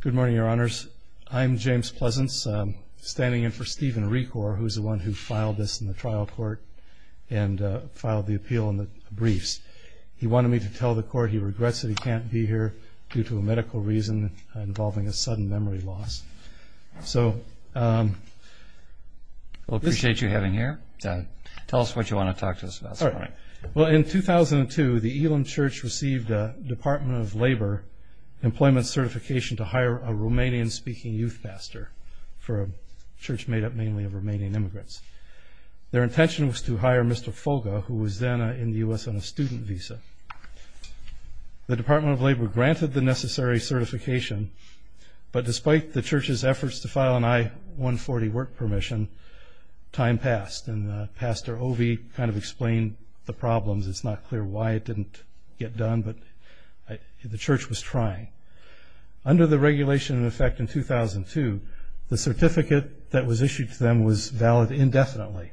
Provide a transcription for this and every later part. Good morning, Your Honors. I'm James Pleasance, standing in for Stephen Reekor, who is the one who filed this in the trial court and filed the appeal in the briefs. He wanted me to tell the court he regrets that he can't be here due to a medical reason involving a sudden memory loss. Well, I appreciate you having him here. Tell us what you want to talk to us about. In 2002, the Ilim Church received a Department of Labor employment certification to hire a Romanian-speaking youth pastor for a church made up mainly of Romanian immigrants. Their intention was to hire Mr. Folga, who was then in the U.S. on a student visa. The Department of Labor granted the necessary certification, but despite the church's efforts to file an I-140 work permission, time passed. And Pastor Ovi kind of explained the problems. It's not clear why it didn't get done, but the church was trying. Under the regulation in effect in 2002, the certificate that was issued to them was valid indefinitely.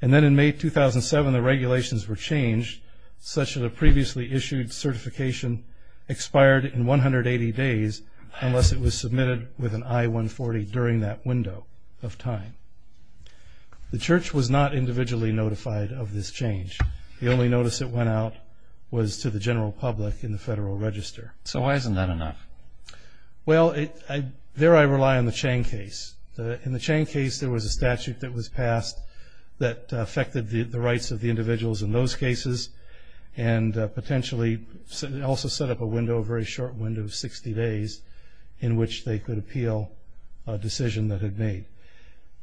And then in May 2007, the regulations were changed such that a previously issued certification expired in 180 days unless it was submitted with an I-140 during that window of time. The church was not individually notified of this change. The only notice that went out was to the general public in the Federal Register. So why isn't that enough? Well, there I rely on the Chang case. In the Chang case, there was a statute that was passed that affected the rights of the individuals in those cases and potentially also set up a window, a very short window of 60 days in which they could appeal a decision that had been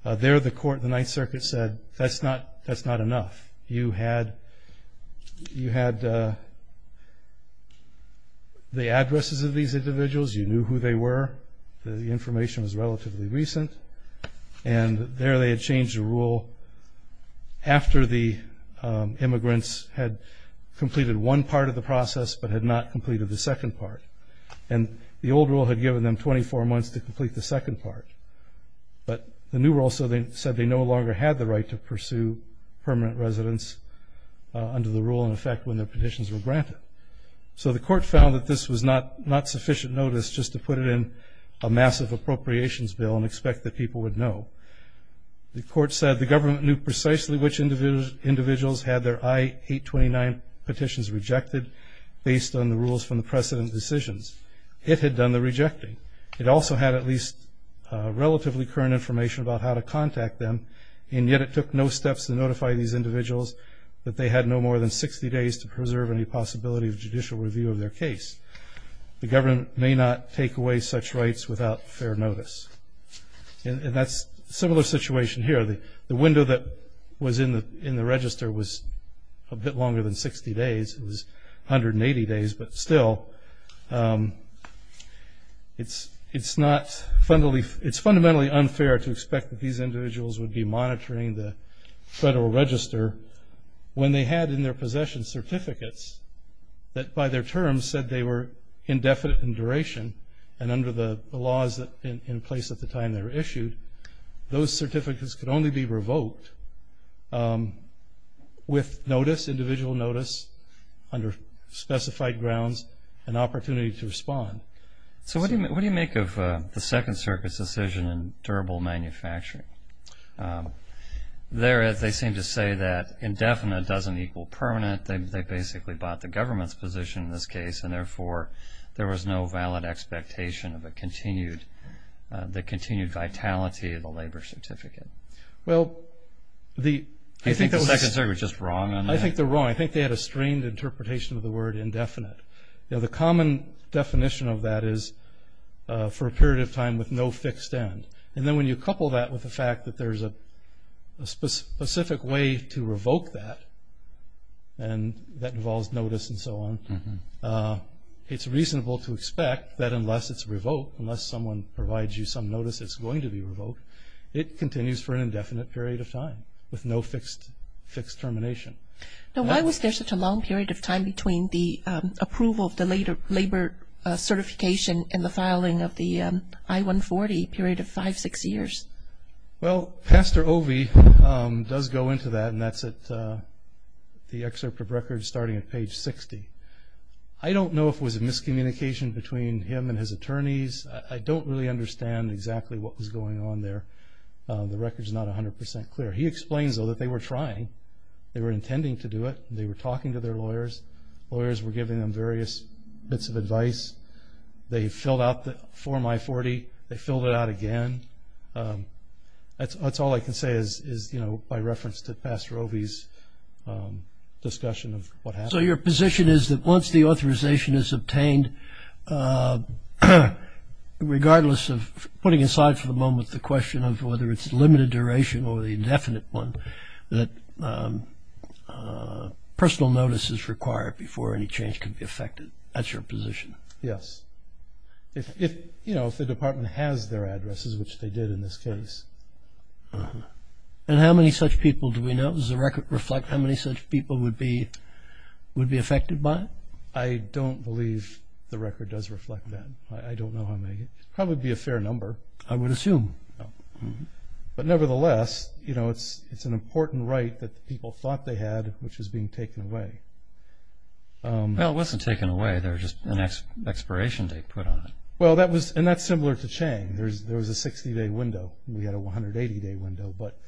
made. There the court in the Ninth Circuit said, that's not enough. You had the addresses of these individuals. You knew who they were. The information was relatively recent. And there they had changed the rule after the immigrants had completed one part of the process but had not completed the second part. And the old rule had given them 24 months to complete the second part. But the new rule said they no longer had the right to pursue permanent residence under the rule in effect when their petitions were granted. So the court found that this was not sufficient notice just to put it in a massive appropriations bill and expect that people would know. The court said the government knew precisely which individuals had their I-829 petitions rejected based on the rules from the precedent decisions. It had done the rejecting. It also had at least relatively current information about how to contact them. And yet it took no steps to notify these individuals that they had no more than 60 days to preserve any possibility of judicial review of their case. The government may not take away such rights without fair notice. And that's a similar situation here. The window that was in the register was a bit longer than 60 days. It was 180 days. But still, it's fundamentally unfair to expect that these individuals would be monitoring the federal register when they had in their possession certificates that, by their terms, said they were indefinite in duration and under the laws in place at the time they were issued. Those certificates could only be revoked with notice, individual notice, under specified grounds, and opportunity to respond. So what do you make of the Second Circuit's decision in durable manufacturing? They seem to say that indefinite doesn't equal permanent. They basically bought the government's position in this case. And therefore, there was no valid expectation of the continued vitality of the labor certificate. Well, I think the Second Circuit was just wrong on that. I think they're wrong. I think they had a strained interpretation of the word indefinite. The common definition of that is for a period of time with no fixed end. And then when you couple that with the fact that there's a specific way to revoke that, and that involves notice and so on, it's reasonable to expect that unless it's revoked, unless someone provides you some notice it's going to be revoked, it continues for an indefinite period of time with no fixed termination. Now, why was there such a long period of time between the approval of the labor certification and the filing of the I-140 period of five, six years? Well, Pastor Ovey does go into that, and that's at the excerpt of records starting at page 60. I don't know if it was a miscommunication between him and his attorneys. I don't really understand exactly what was going on there. The record's not 100% clear. He explains, though, that they were trying. They were intending to do it. They were talking to their lawyers. Lawyers were giving them various bits of advice. They filled out the form I-40. They filled it out again. That's all I can say is, you know, by reference to Pastor Ovey's discussion of what happened. So your position is that once the authorization is obtained, regardless of putting aside for the moment the question of whether it's limited duration or the indefinite one, that personal notice is required before any change can be effected. That's your position? Yes. You know, if the department has their addresses, which they did in this case. And how many such people do we know? Does the record reflect how many such people would be affected by it? I don't believe the record does reflect that. I don't know how many. It would probably be a fair number. I would assume. But nevertheless, you know, it's an important right that people thought they had, which is being taken away. Well, it wasn't taken away. There was just an expiration date put on it. Well, that was – and that's similar to Chang. There was a 60-day window. We had a 180-day window. But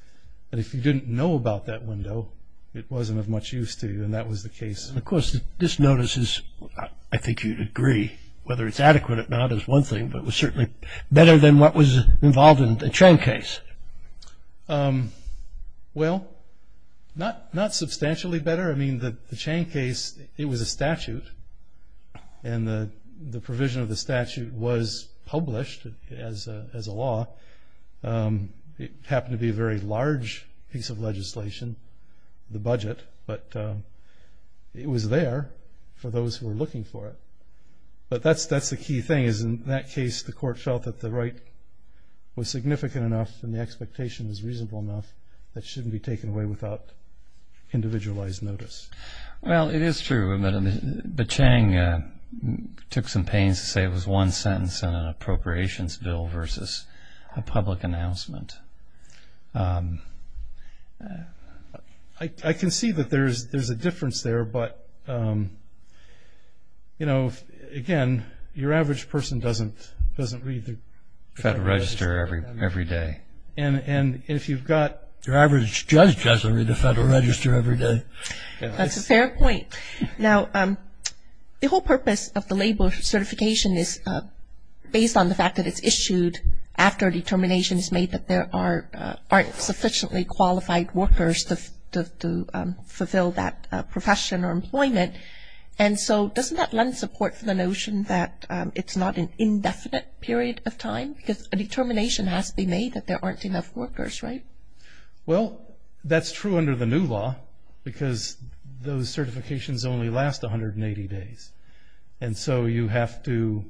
if you didn't know about that window, it wasn't of much use to you, and that was the case. And, of course, this notice is – I think you'd agree, whether it's adequate or not is one thing, but it was certainly better than what was involved in the Chang case. Well, not substantially better. I mean, the Chang case, it was a statute, and the provision of the statute was published as a law. It happened to be a very large piece of legislation, the budget, but it was there for those who were looking for it. But that's the key thing, is in that case the court felt that the right was significant enough and the expectation was reasonable enough that it shouldn't be taken away without individualized notice. Well, it is true, but Chang took some pains to say it was one sentence in an appropriations bill versus a public announcement. I can see that there's a difference there, but, you know, again, your average person doesn't read the Federal Register every day. And if you've got – Your average judge doesn't read the Federal Register every day. That's a fair point. Now, the whole purpose of the labor certification is based on the fact that it's issued after a determination is made that there aren't sufficiently qualified workers to fulfill that profession or employment. And so doesn't that lend support for the notion that it's not an indefinite period of time? Because a determination has to be made that there aren't enough workers, right? Well, that's true under the new law because those certifications only last 180 days. And so you have to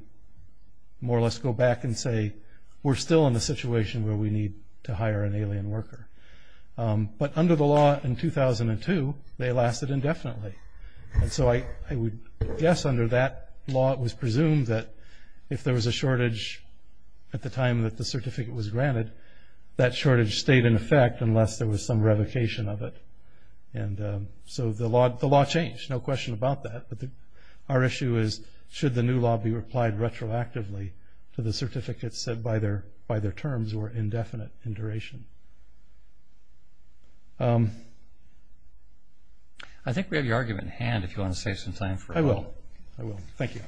more or less go back and say, we're still in a situation where we need to hire an alien worker. But under the law in 2002, they lasted indefinitely. And so I would guess under that law it was presumed that if there was a shortage at the time that the certificate was granted, that shortage stayed in effect unless there was some revocation of it. And so the law changed. There's no question about that, but our issue is, should the new law be applied retroactively to the certificates set by their terms or indefinite in duration? I think we have your argument at hand if you want to say something. I will. Thank you.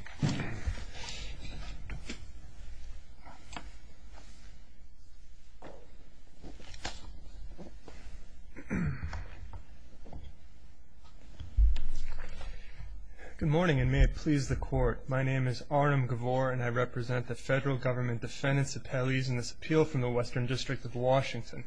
Good morning, and may it please the Court. My name is Arnum Gavore, and I represent the federal government defendants' appellees in this appeal from the Western District of Washington.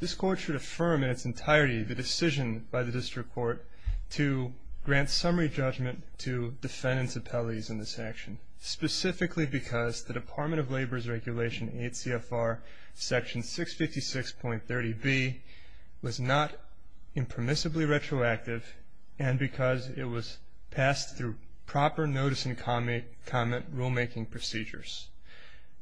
This Court should affirm in its entirety the decision by the District Court to grant summary judgment to defendants' appellees in this action, specifically because the Department of Labor's Regulation 8 CFR Section 656.30B was not impermissibly retroactive and because it was passed through proper notice and comment rulemaking procedures.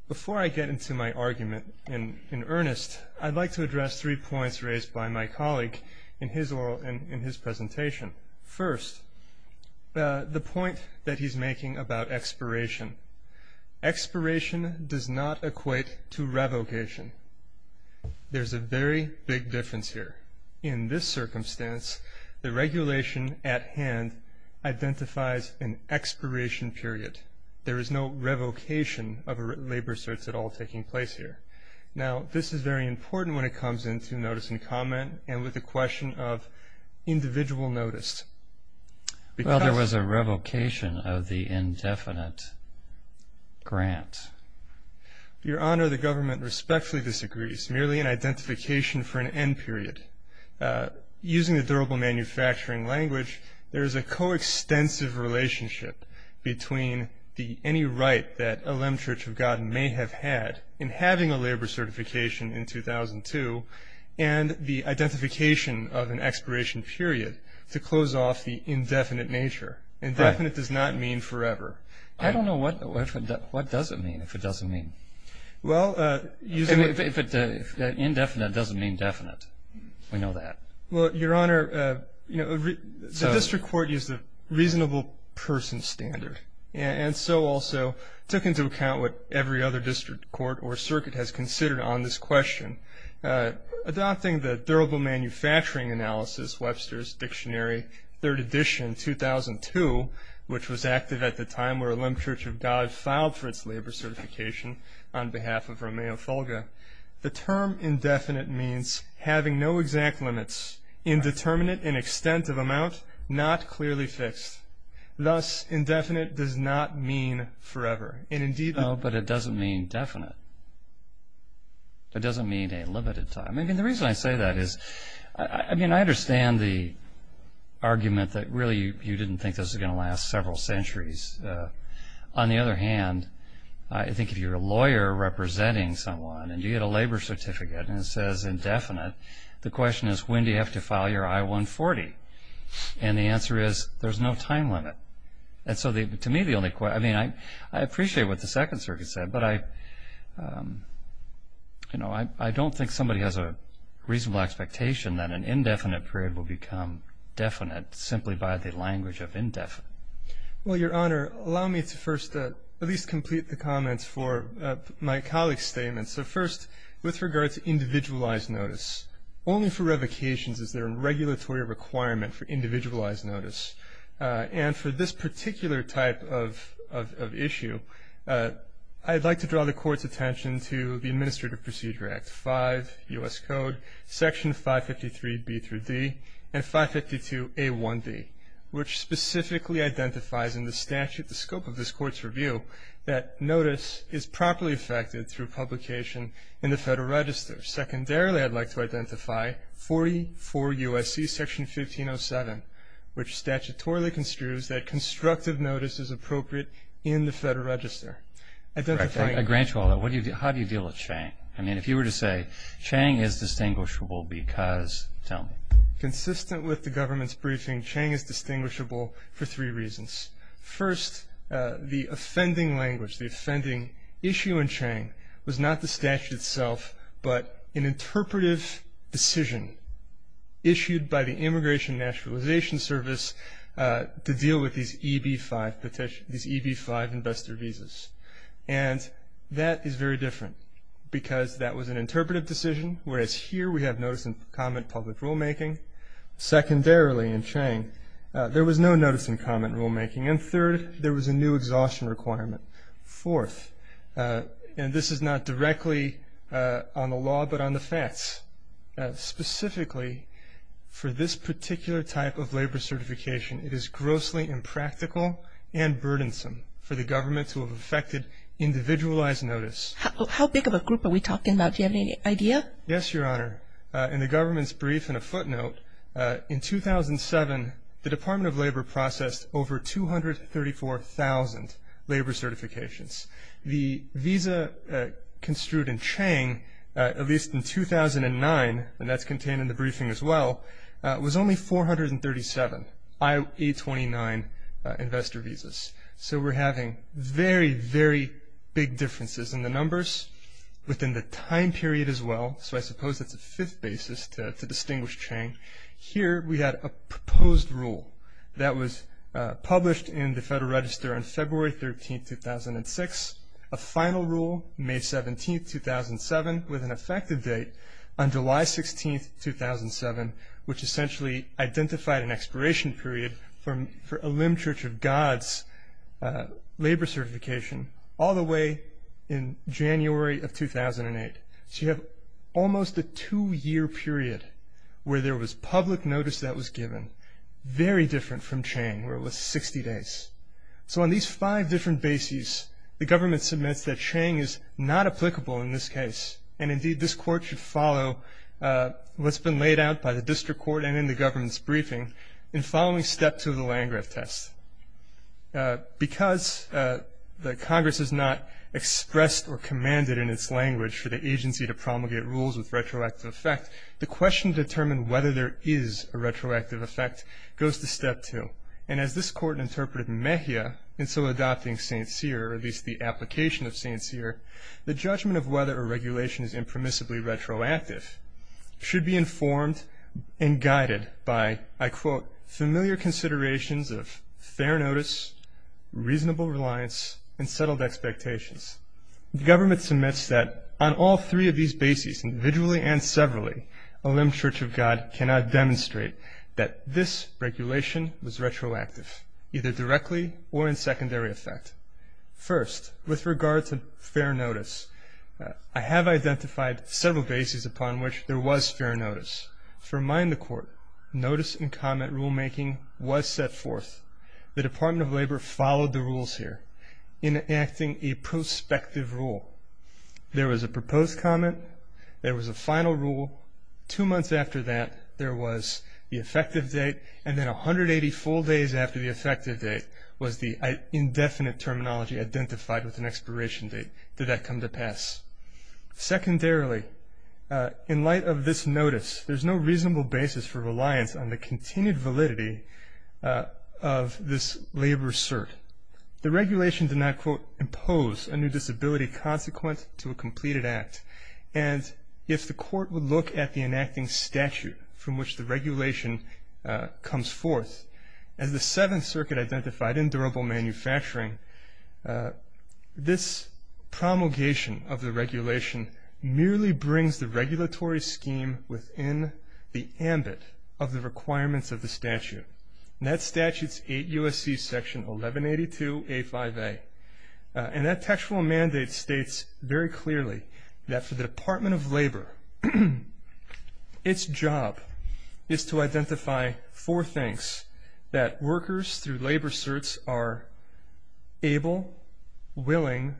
Before I get into my argument in earnest, I'd like to address three points raised by my colleague in his presentation. First, the point that he's making about expiration. Expiration does not equate to revocation. There's a very big difference here. In this circumstance, the regulation at hand identifies an expiration period. There is no revocation of labor certs at all taking place here. Now, this is very important when it comes into notice and comment and with the question of individual notice. Well, there was a revocation of the indefinite grant. Your Honor, the government respectfully disagrees, merely an identification for an end period. Using the durable manufacturing language, there is a coextensive relationship between any right that a Lem Church of God may have had in having a labor certification in 2002 and the identification of an expiration period to close off the indefinite nature. Indefinite does not mean forever. I don't know. What does it mean if it doesn't mean? Well, if indefinite doesn't mean definite, we know that. Well, Your Honor, the district court used the reasonable person standard and so also took into account what every other district court or circuit has considered on this question. Adopting the Durable Manufacturing Analysis, Webster's Dictionary, Third Edition, 2002, which was active at the time where a Lem Church of God filed for its labor certification on behalf of Romeo Folga, the term indefinite means having no exact limits, indeterminate in extent of amount, not clearly fixed. Thus, indefinite does not mean forever. Oh, but it doesn't mean definite. It doesn't mean a limited time. I mean, the reason I say that is I understand the argument that really you didn't think this was going to last several centuries. On the other hand, I think if you're a lawyer representing someone and you get a labor certificate and it says indefinite, the question is when do you have to file your I-140? And the answer is there's no time limit. And so to me the only question, I mean, I appreciate what the Second Circuit said, but I don't think somebody has a reasonable expectation that an indefinite period will become definite simply by the language of indefinite. Well, Your Honor, allow me to first at least complete the comments for my colleague's statement. So first, with regard to individualized notice, only for revocations is there a regulatory requirement for individualized notice. And for this particular type of issue, I'd like to draw the Court's attention to the Administrative Procedure Act 5 U.S. Code, Section 553b through d, and 552a1d, which specifically identifies in the statute the scope of this Court's review that notice is properly affected through publication in the Federal Register. Secondarily, I'd like to identify 44 U.S.C. Section 1507, which statutorily construes that constructive notice is appropriate in the Federal Register. I grant you all that. How do you deal with Chang? I mean, if you were to say Chang is distinguishable because, tell me. Consistent with the government's briefing, Chang is distinguishable for three reasons. First, the offending language, the offending issue in Chang was not the statute itself, but an interpretive decision issued by the Immigration and Naturalization Service to deal with these EB-5 investor visas. And that is very different because that was an interpretive decision, whereas here we have notice and comment public rulemaking. Secondarily, in Chang, there was no notice and comment rulemaking. And third, there was a new exhaustion requirement. Fourth, and this is not directly on the law but on the facts, specifically for this particular type of labor certification, it is grossly impractical and burdensome for the government to have affected individualized notice. How big of a group are we talking about? Do you have any idea? Yes, Your Honor. In the government's brief and a footnote, in 2007, the Department of Labor processed over 234,000 labor certifications. The visa construed in Chang, at least in 2009, and that's contained in the briefing as well, was only 437 I-829 investor visas. So we're having very, very big differences in the numbers within the time period as well, so I suppose that's a fifth basis to distinguish Chang. Here we had a proposed rule that was published in the Federal Register on February 13, 2006. A final rule, May 17, 2007, with an effective date on July 16, 2007, which essentially identified an expiration period for a limb Church of God's labor certification, all the way in January of 2008. So you have almost a two-year period where there was public notice that was given, very different from Chang, where it was 60 days. So on these five different bases, the government submits that Chang is not applicable in this case, and indeed this court should follow what's been laid out by the district court and in the government's briefing in following step two of the Landgraf test. Because the Congress has not expressed or commanded in its language for the agency to promulgate rules with retroactive effect, the question to determine whether there is a retroactive effect goes to step two. And as this court interpreted Mejia in so adopting St. Cyr, or at least the application of St. Cyr, the judgment of whether a regulation is impermissibly retroactive should be informed and guided by, I quote, The government submits that on all three of these bases, individually and severally, a limb Church of God cannot demonstrate that this regulation was retroactive, either directly or in secondary effect. First, with regard to fair notice, I have identified several bases upon which there was fair notice. For mine, the court, notice and comment rulemaking was set forth. The Department of Labor followed the rules here, enacting a prospective rule. There was a proposed comment. There was a final rule. Two months after that, there was the effective date. And then 180 full days after the effective date was the indefinite terminology identified with an expiration date. Did that come to pass? Secondarily, in light of this notice, there's no reasonable basis for reliance on the continued validity of this labor cert. The regulation did not, quote, impose a new disability consequent to a completed act. And if the court would look at the enacting statute from which the regulation comes forth, as the Seventh Circuit identified in durable manufacturing, this promulgation of the regulation merely brings the regulatory scheme within the ambit of the requirements of the statute. And that statute's 8 U.S.C. Section 1182A5A. And that textual mandate states very clearly that for the Department of Labor, its job is to identify four things, that workers through labor certs are able, willing,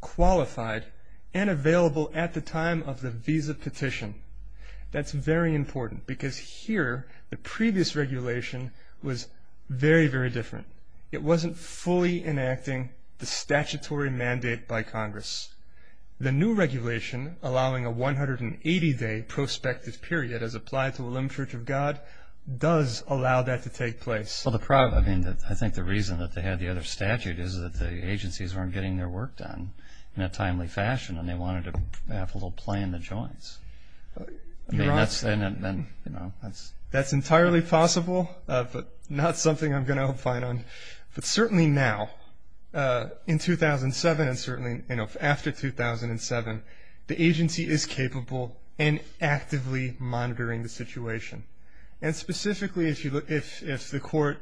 qualified, and available at the time of the visa petition. That's very important because here, the previous regulation was very, very different. It wasn't fully enacting the statutory mandate by Congress. The new regulation, allowing a 180-day prospective period, as applied to Willem Church of God, does allow that to take place. Well, I think the reason that they had the other statute is that the agencies aren't getting their work done in a timely fashion, and they wanted to have a little play in the joints. That's entirely possible, but not something I'm going to opine on. But certainly now, in 2007 and certainly after 2007, the agency is capable and actively monitoring the situation. And specifically, if the court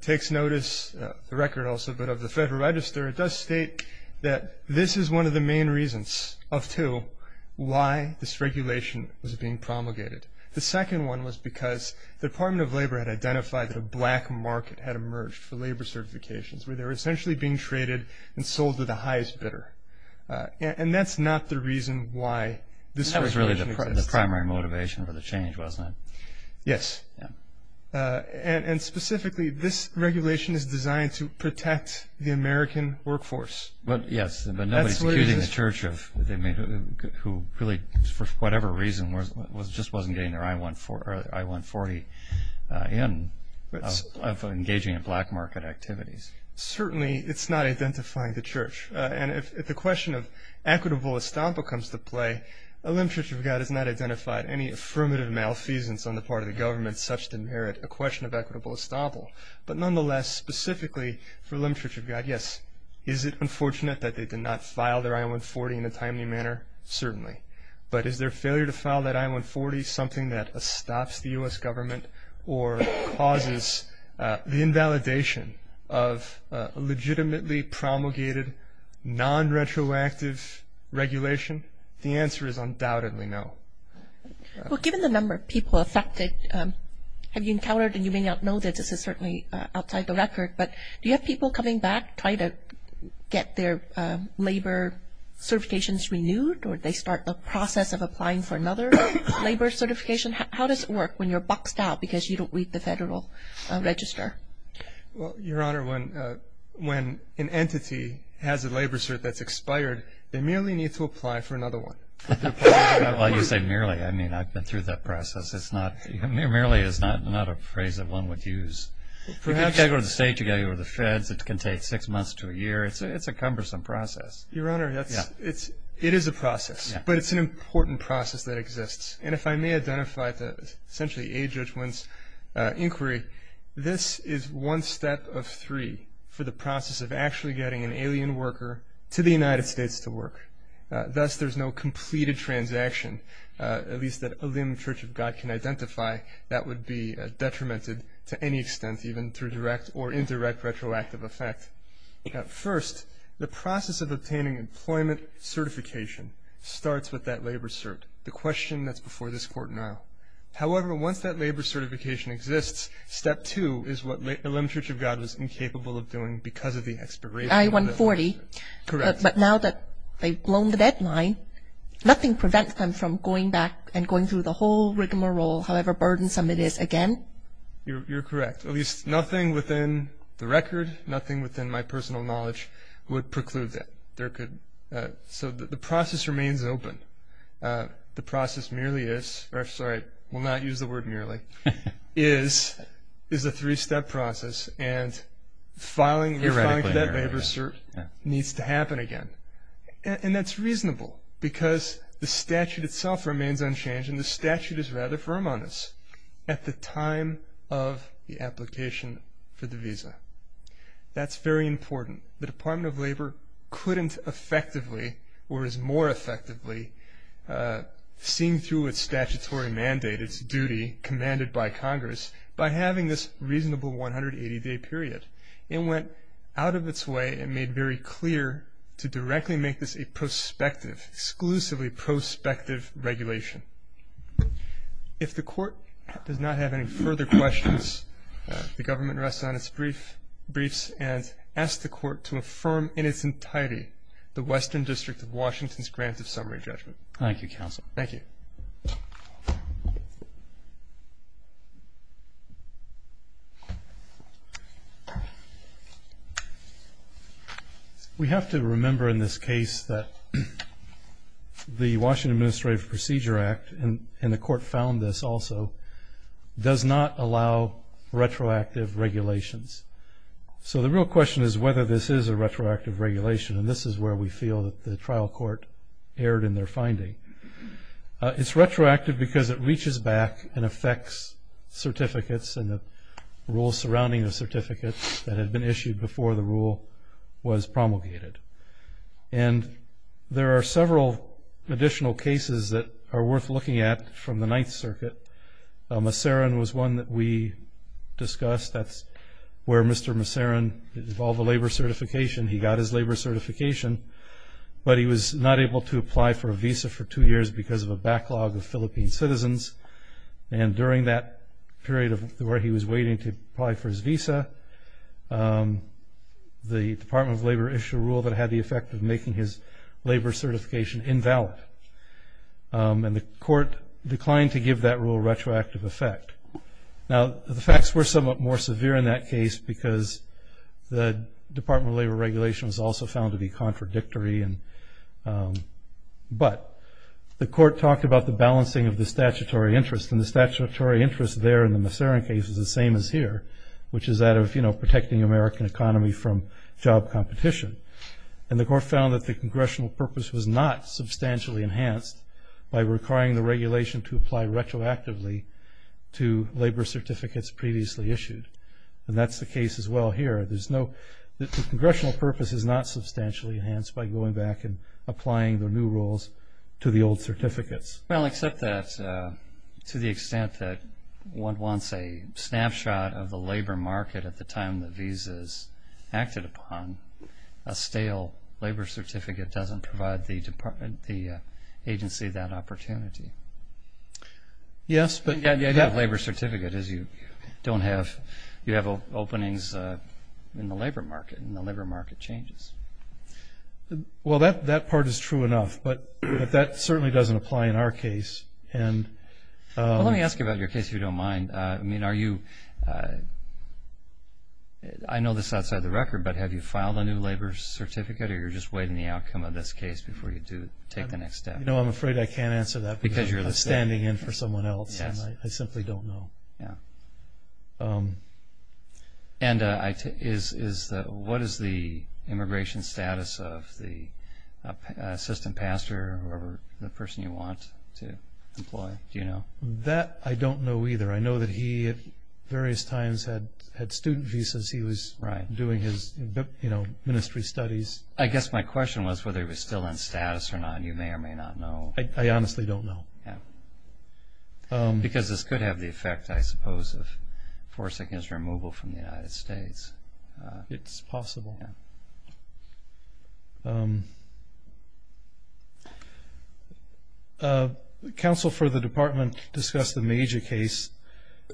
takes notice, the record also, but of the Federal Register, it does state that this is one of the main reasons of two why this regulation was being promulgated. The second one was because the Department of Labor had identified that a black market had emerged for labor certifications, where they were essentially being traded and sold to the highest bidder. And that's not the reason why this regulation exists. That was really the primary motivation for the change, wasn't it? Yes. And specifically, this regulation is designed to protect the American workforce. Yes, but nobody's accusing the Church of – who really, for whatever reason, just wasn't getting their I-140 in. Of engaging in black market activities. Certainly, it's not identifying the Church. And if the question of equitable estoppel comes to play, a limb Church of God has not identified any affirmative malfeasance on the part of the government such to merit a question of equitable estoppel. But nonetheless, specifically for a limb Church of God, yes, is it unfortunate that they did not file their I-140 in a timely manner? Certainly. Well, given the number of people affected, have you encountered, and you may not know this, this is certainly outside the record, but do you have people coming back, trying to get their labor certifications renewed, or do they start the process of applying for another labor certification? How does it work when you're buckling down? Because you don't read the federal register. Well, Your Honor, when an entity has a labor cert that's expired, they merely need to apply for another one. Well, you say merely. I mean, I've been through that process. Merely is not a phrase that one would use. You can't go to the state, you can't go to the feds. It can take six months to a year. It's a cumbersome process. Your Honor, it is a process, but it's an important process that exists. And if I may identify to essentially aid Judge Wynn's inquiry, this is one step of three for the process of actually getting an alien worker to the United States to work. Thus, there's no completed transaction, at least that a limited church of God can identify, that would be detrimented to any extent, even through direct or indirect retroactive effect. First, the process of obtaining employment certification starts with that labor cert. The question that's before this Court now. However, once that labor certification exists, step two is what a limited church of God was incapable of doing because of the expiration. I-140. Correct. But now that they've blown the deadline, nothing prevents them from going back and going through the whole rigmarole, however burdensome it is again? You're correct. At least nothing within the record, nothing within my personal knowledge, would preclude that. So the process remains open. The process merely is, or I'm sorry, I will not use the word merely, is a three-step process and filing that labor cert needs to happen again. And that's reasonable because the statute itself remains unchanged and the statute is rather firm on this at the time of the application for the visa. That's very important. The Department of Labor couldn't effectively, or is more effectively, seeing through its statutory mandate, its duty commanded by Congress, by having this reasonable 180-day period. It went out of its way and made very clear to directly make this a prospective, exclusively prospective regulation. If the Court does not have any further questions, the government rests on its briefs and asks the Court to affirm in its entirety the Western District of Washington's grant of summary judgment. Thank you, Counsel. Thank you. We have to remember in this case that the Washington Administrative Procedure Act, and the Court found this also, does not allow retroactive regulations. So the real question is whether this is a retroactive regulation, and this is where we feel that the trial court erred in their finding. It's retroactive because it reaches back and affects certificates and the rules surrounding the certificates that had been issued before the rule was promulgated. And there are several additional cases that are worth looking at from the Ninth Circuit. Maserin was one that we discussed. That's where Mr. Maserin, with all the labor certification, he got his labor certification, but he was not able to apply for a visa for two years because of a backlog of Philippine citizens. And during that period where he was waiting to apply for his visa, the Department of Labor issued a rule that had the effect of making his labor certification invalid. And the Court declined to give that rule a retroactive effect. Now, the facts were somewhat more severe in that case because the Department of Labor regulation was also found to be contradictory. But the Court talked about the balancing of the statutory interest, and the statutory interest there in the Maserin case is the same as here, which is that of protecting the American economy from job competition. And the Court found that the congressional purpose was not substantially enhanced by requiring the regulation to apply retroactively to labor certificates previously issued. And that's the case as well here. The congressional purpose is not substantially enhanced by going back and applying the new rules to the old certificates. Well, except that to the extent that one wants a snapshot of the labor market at the time the visas acted upon, a stale labor certificate doesn't provide the agency that opportunity. Yes, but you have a labor certificate. You have openings in the labor market, and the labor market changes. Well, that part is true enough, but that certainly doesn't apply in our case. Well, let me ask you about your case, if you don't mind. I mean, I know this outside the record, but have you filed a new labor certificate or you're just waiting the outcome of this case before you take the next step? No, I'm afraid I can't answer that because I'm standing in for someone else, and I simply don't know. And what is the immigration status of the assistant pastor or whoever the person you want to employ? Do you know? That I don't know either. I know that he at various times had student visas. He was doing his ministry studies. I guess my question was whether he was still in status or not, and you may or may not know. I honestly don't know. Because this could have the effect, I suppose, of four seconds removal from the United States. It's possible. Counsel for the department discussed the Major case,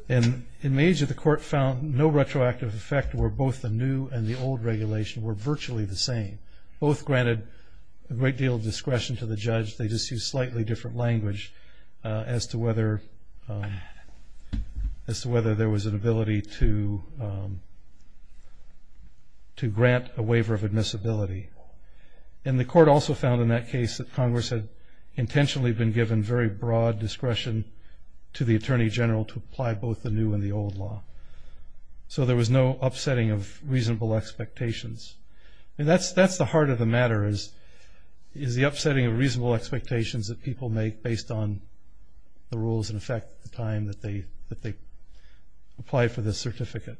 and in Major the court found no retroactive effect where both the new and the old regulation were virtually the same. Both granted a great deal of discretion to the judge. They just used slightly different language as to whether there was an ability to grant a waiver of admissibility. And the court also found in that case that Congress had intentionally been given very broad discretion to the attorney general to apply both the new and the old law. So there was no upsetting of reasonable expectations. That's the heart of the matter is the upsetting of reasonable expectations that people make based on the rules and affect the time that they apply for this certificate.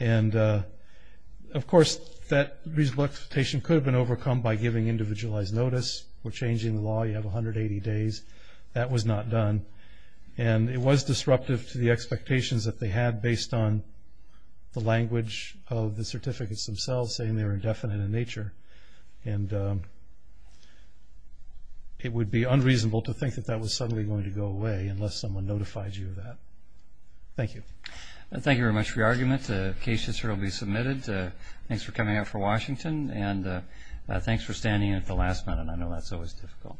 And, of course, that reasonable expectation could have been overcome by giving individualized notice. We're changing the law. You have 180 days. That was not done. And it was disruptive to the expectations that they had based on the language of the certificates themselves, saying they were indefinite in nature. And it would be unreasonable to think that that was suddenly going to go away unless someone notified you of that. Thank you. Thank you very much for your argument. The case history will be submitted. Thanks for coming out from Washington, and thanks for standing in at the last minute. I know that's always difficult.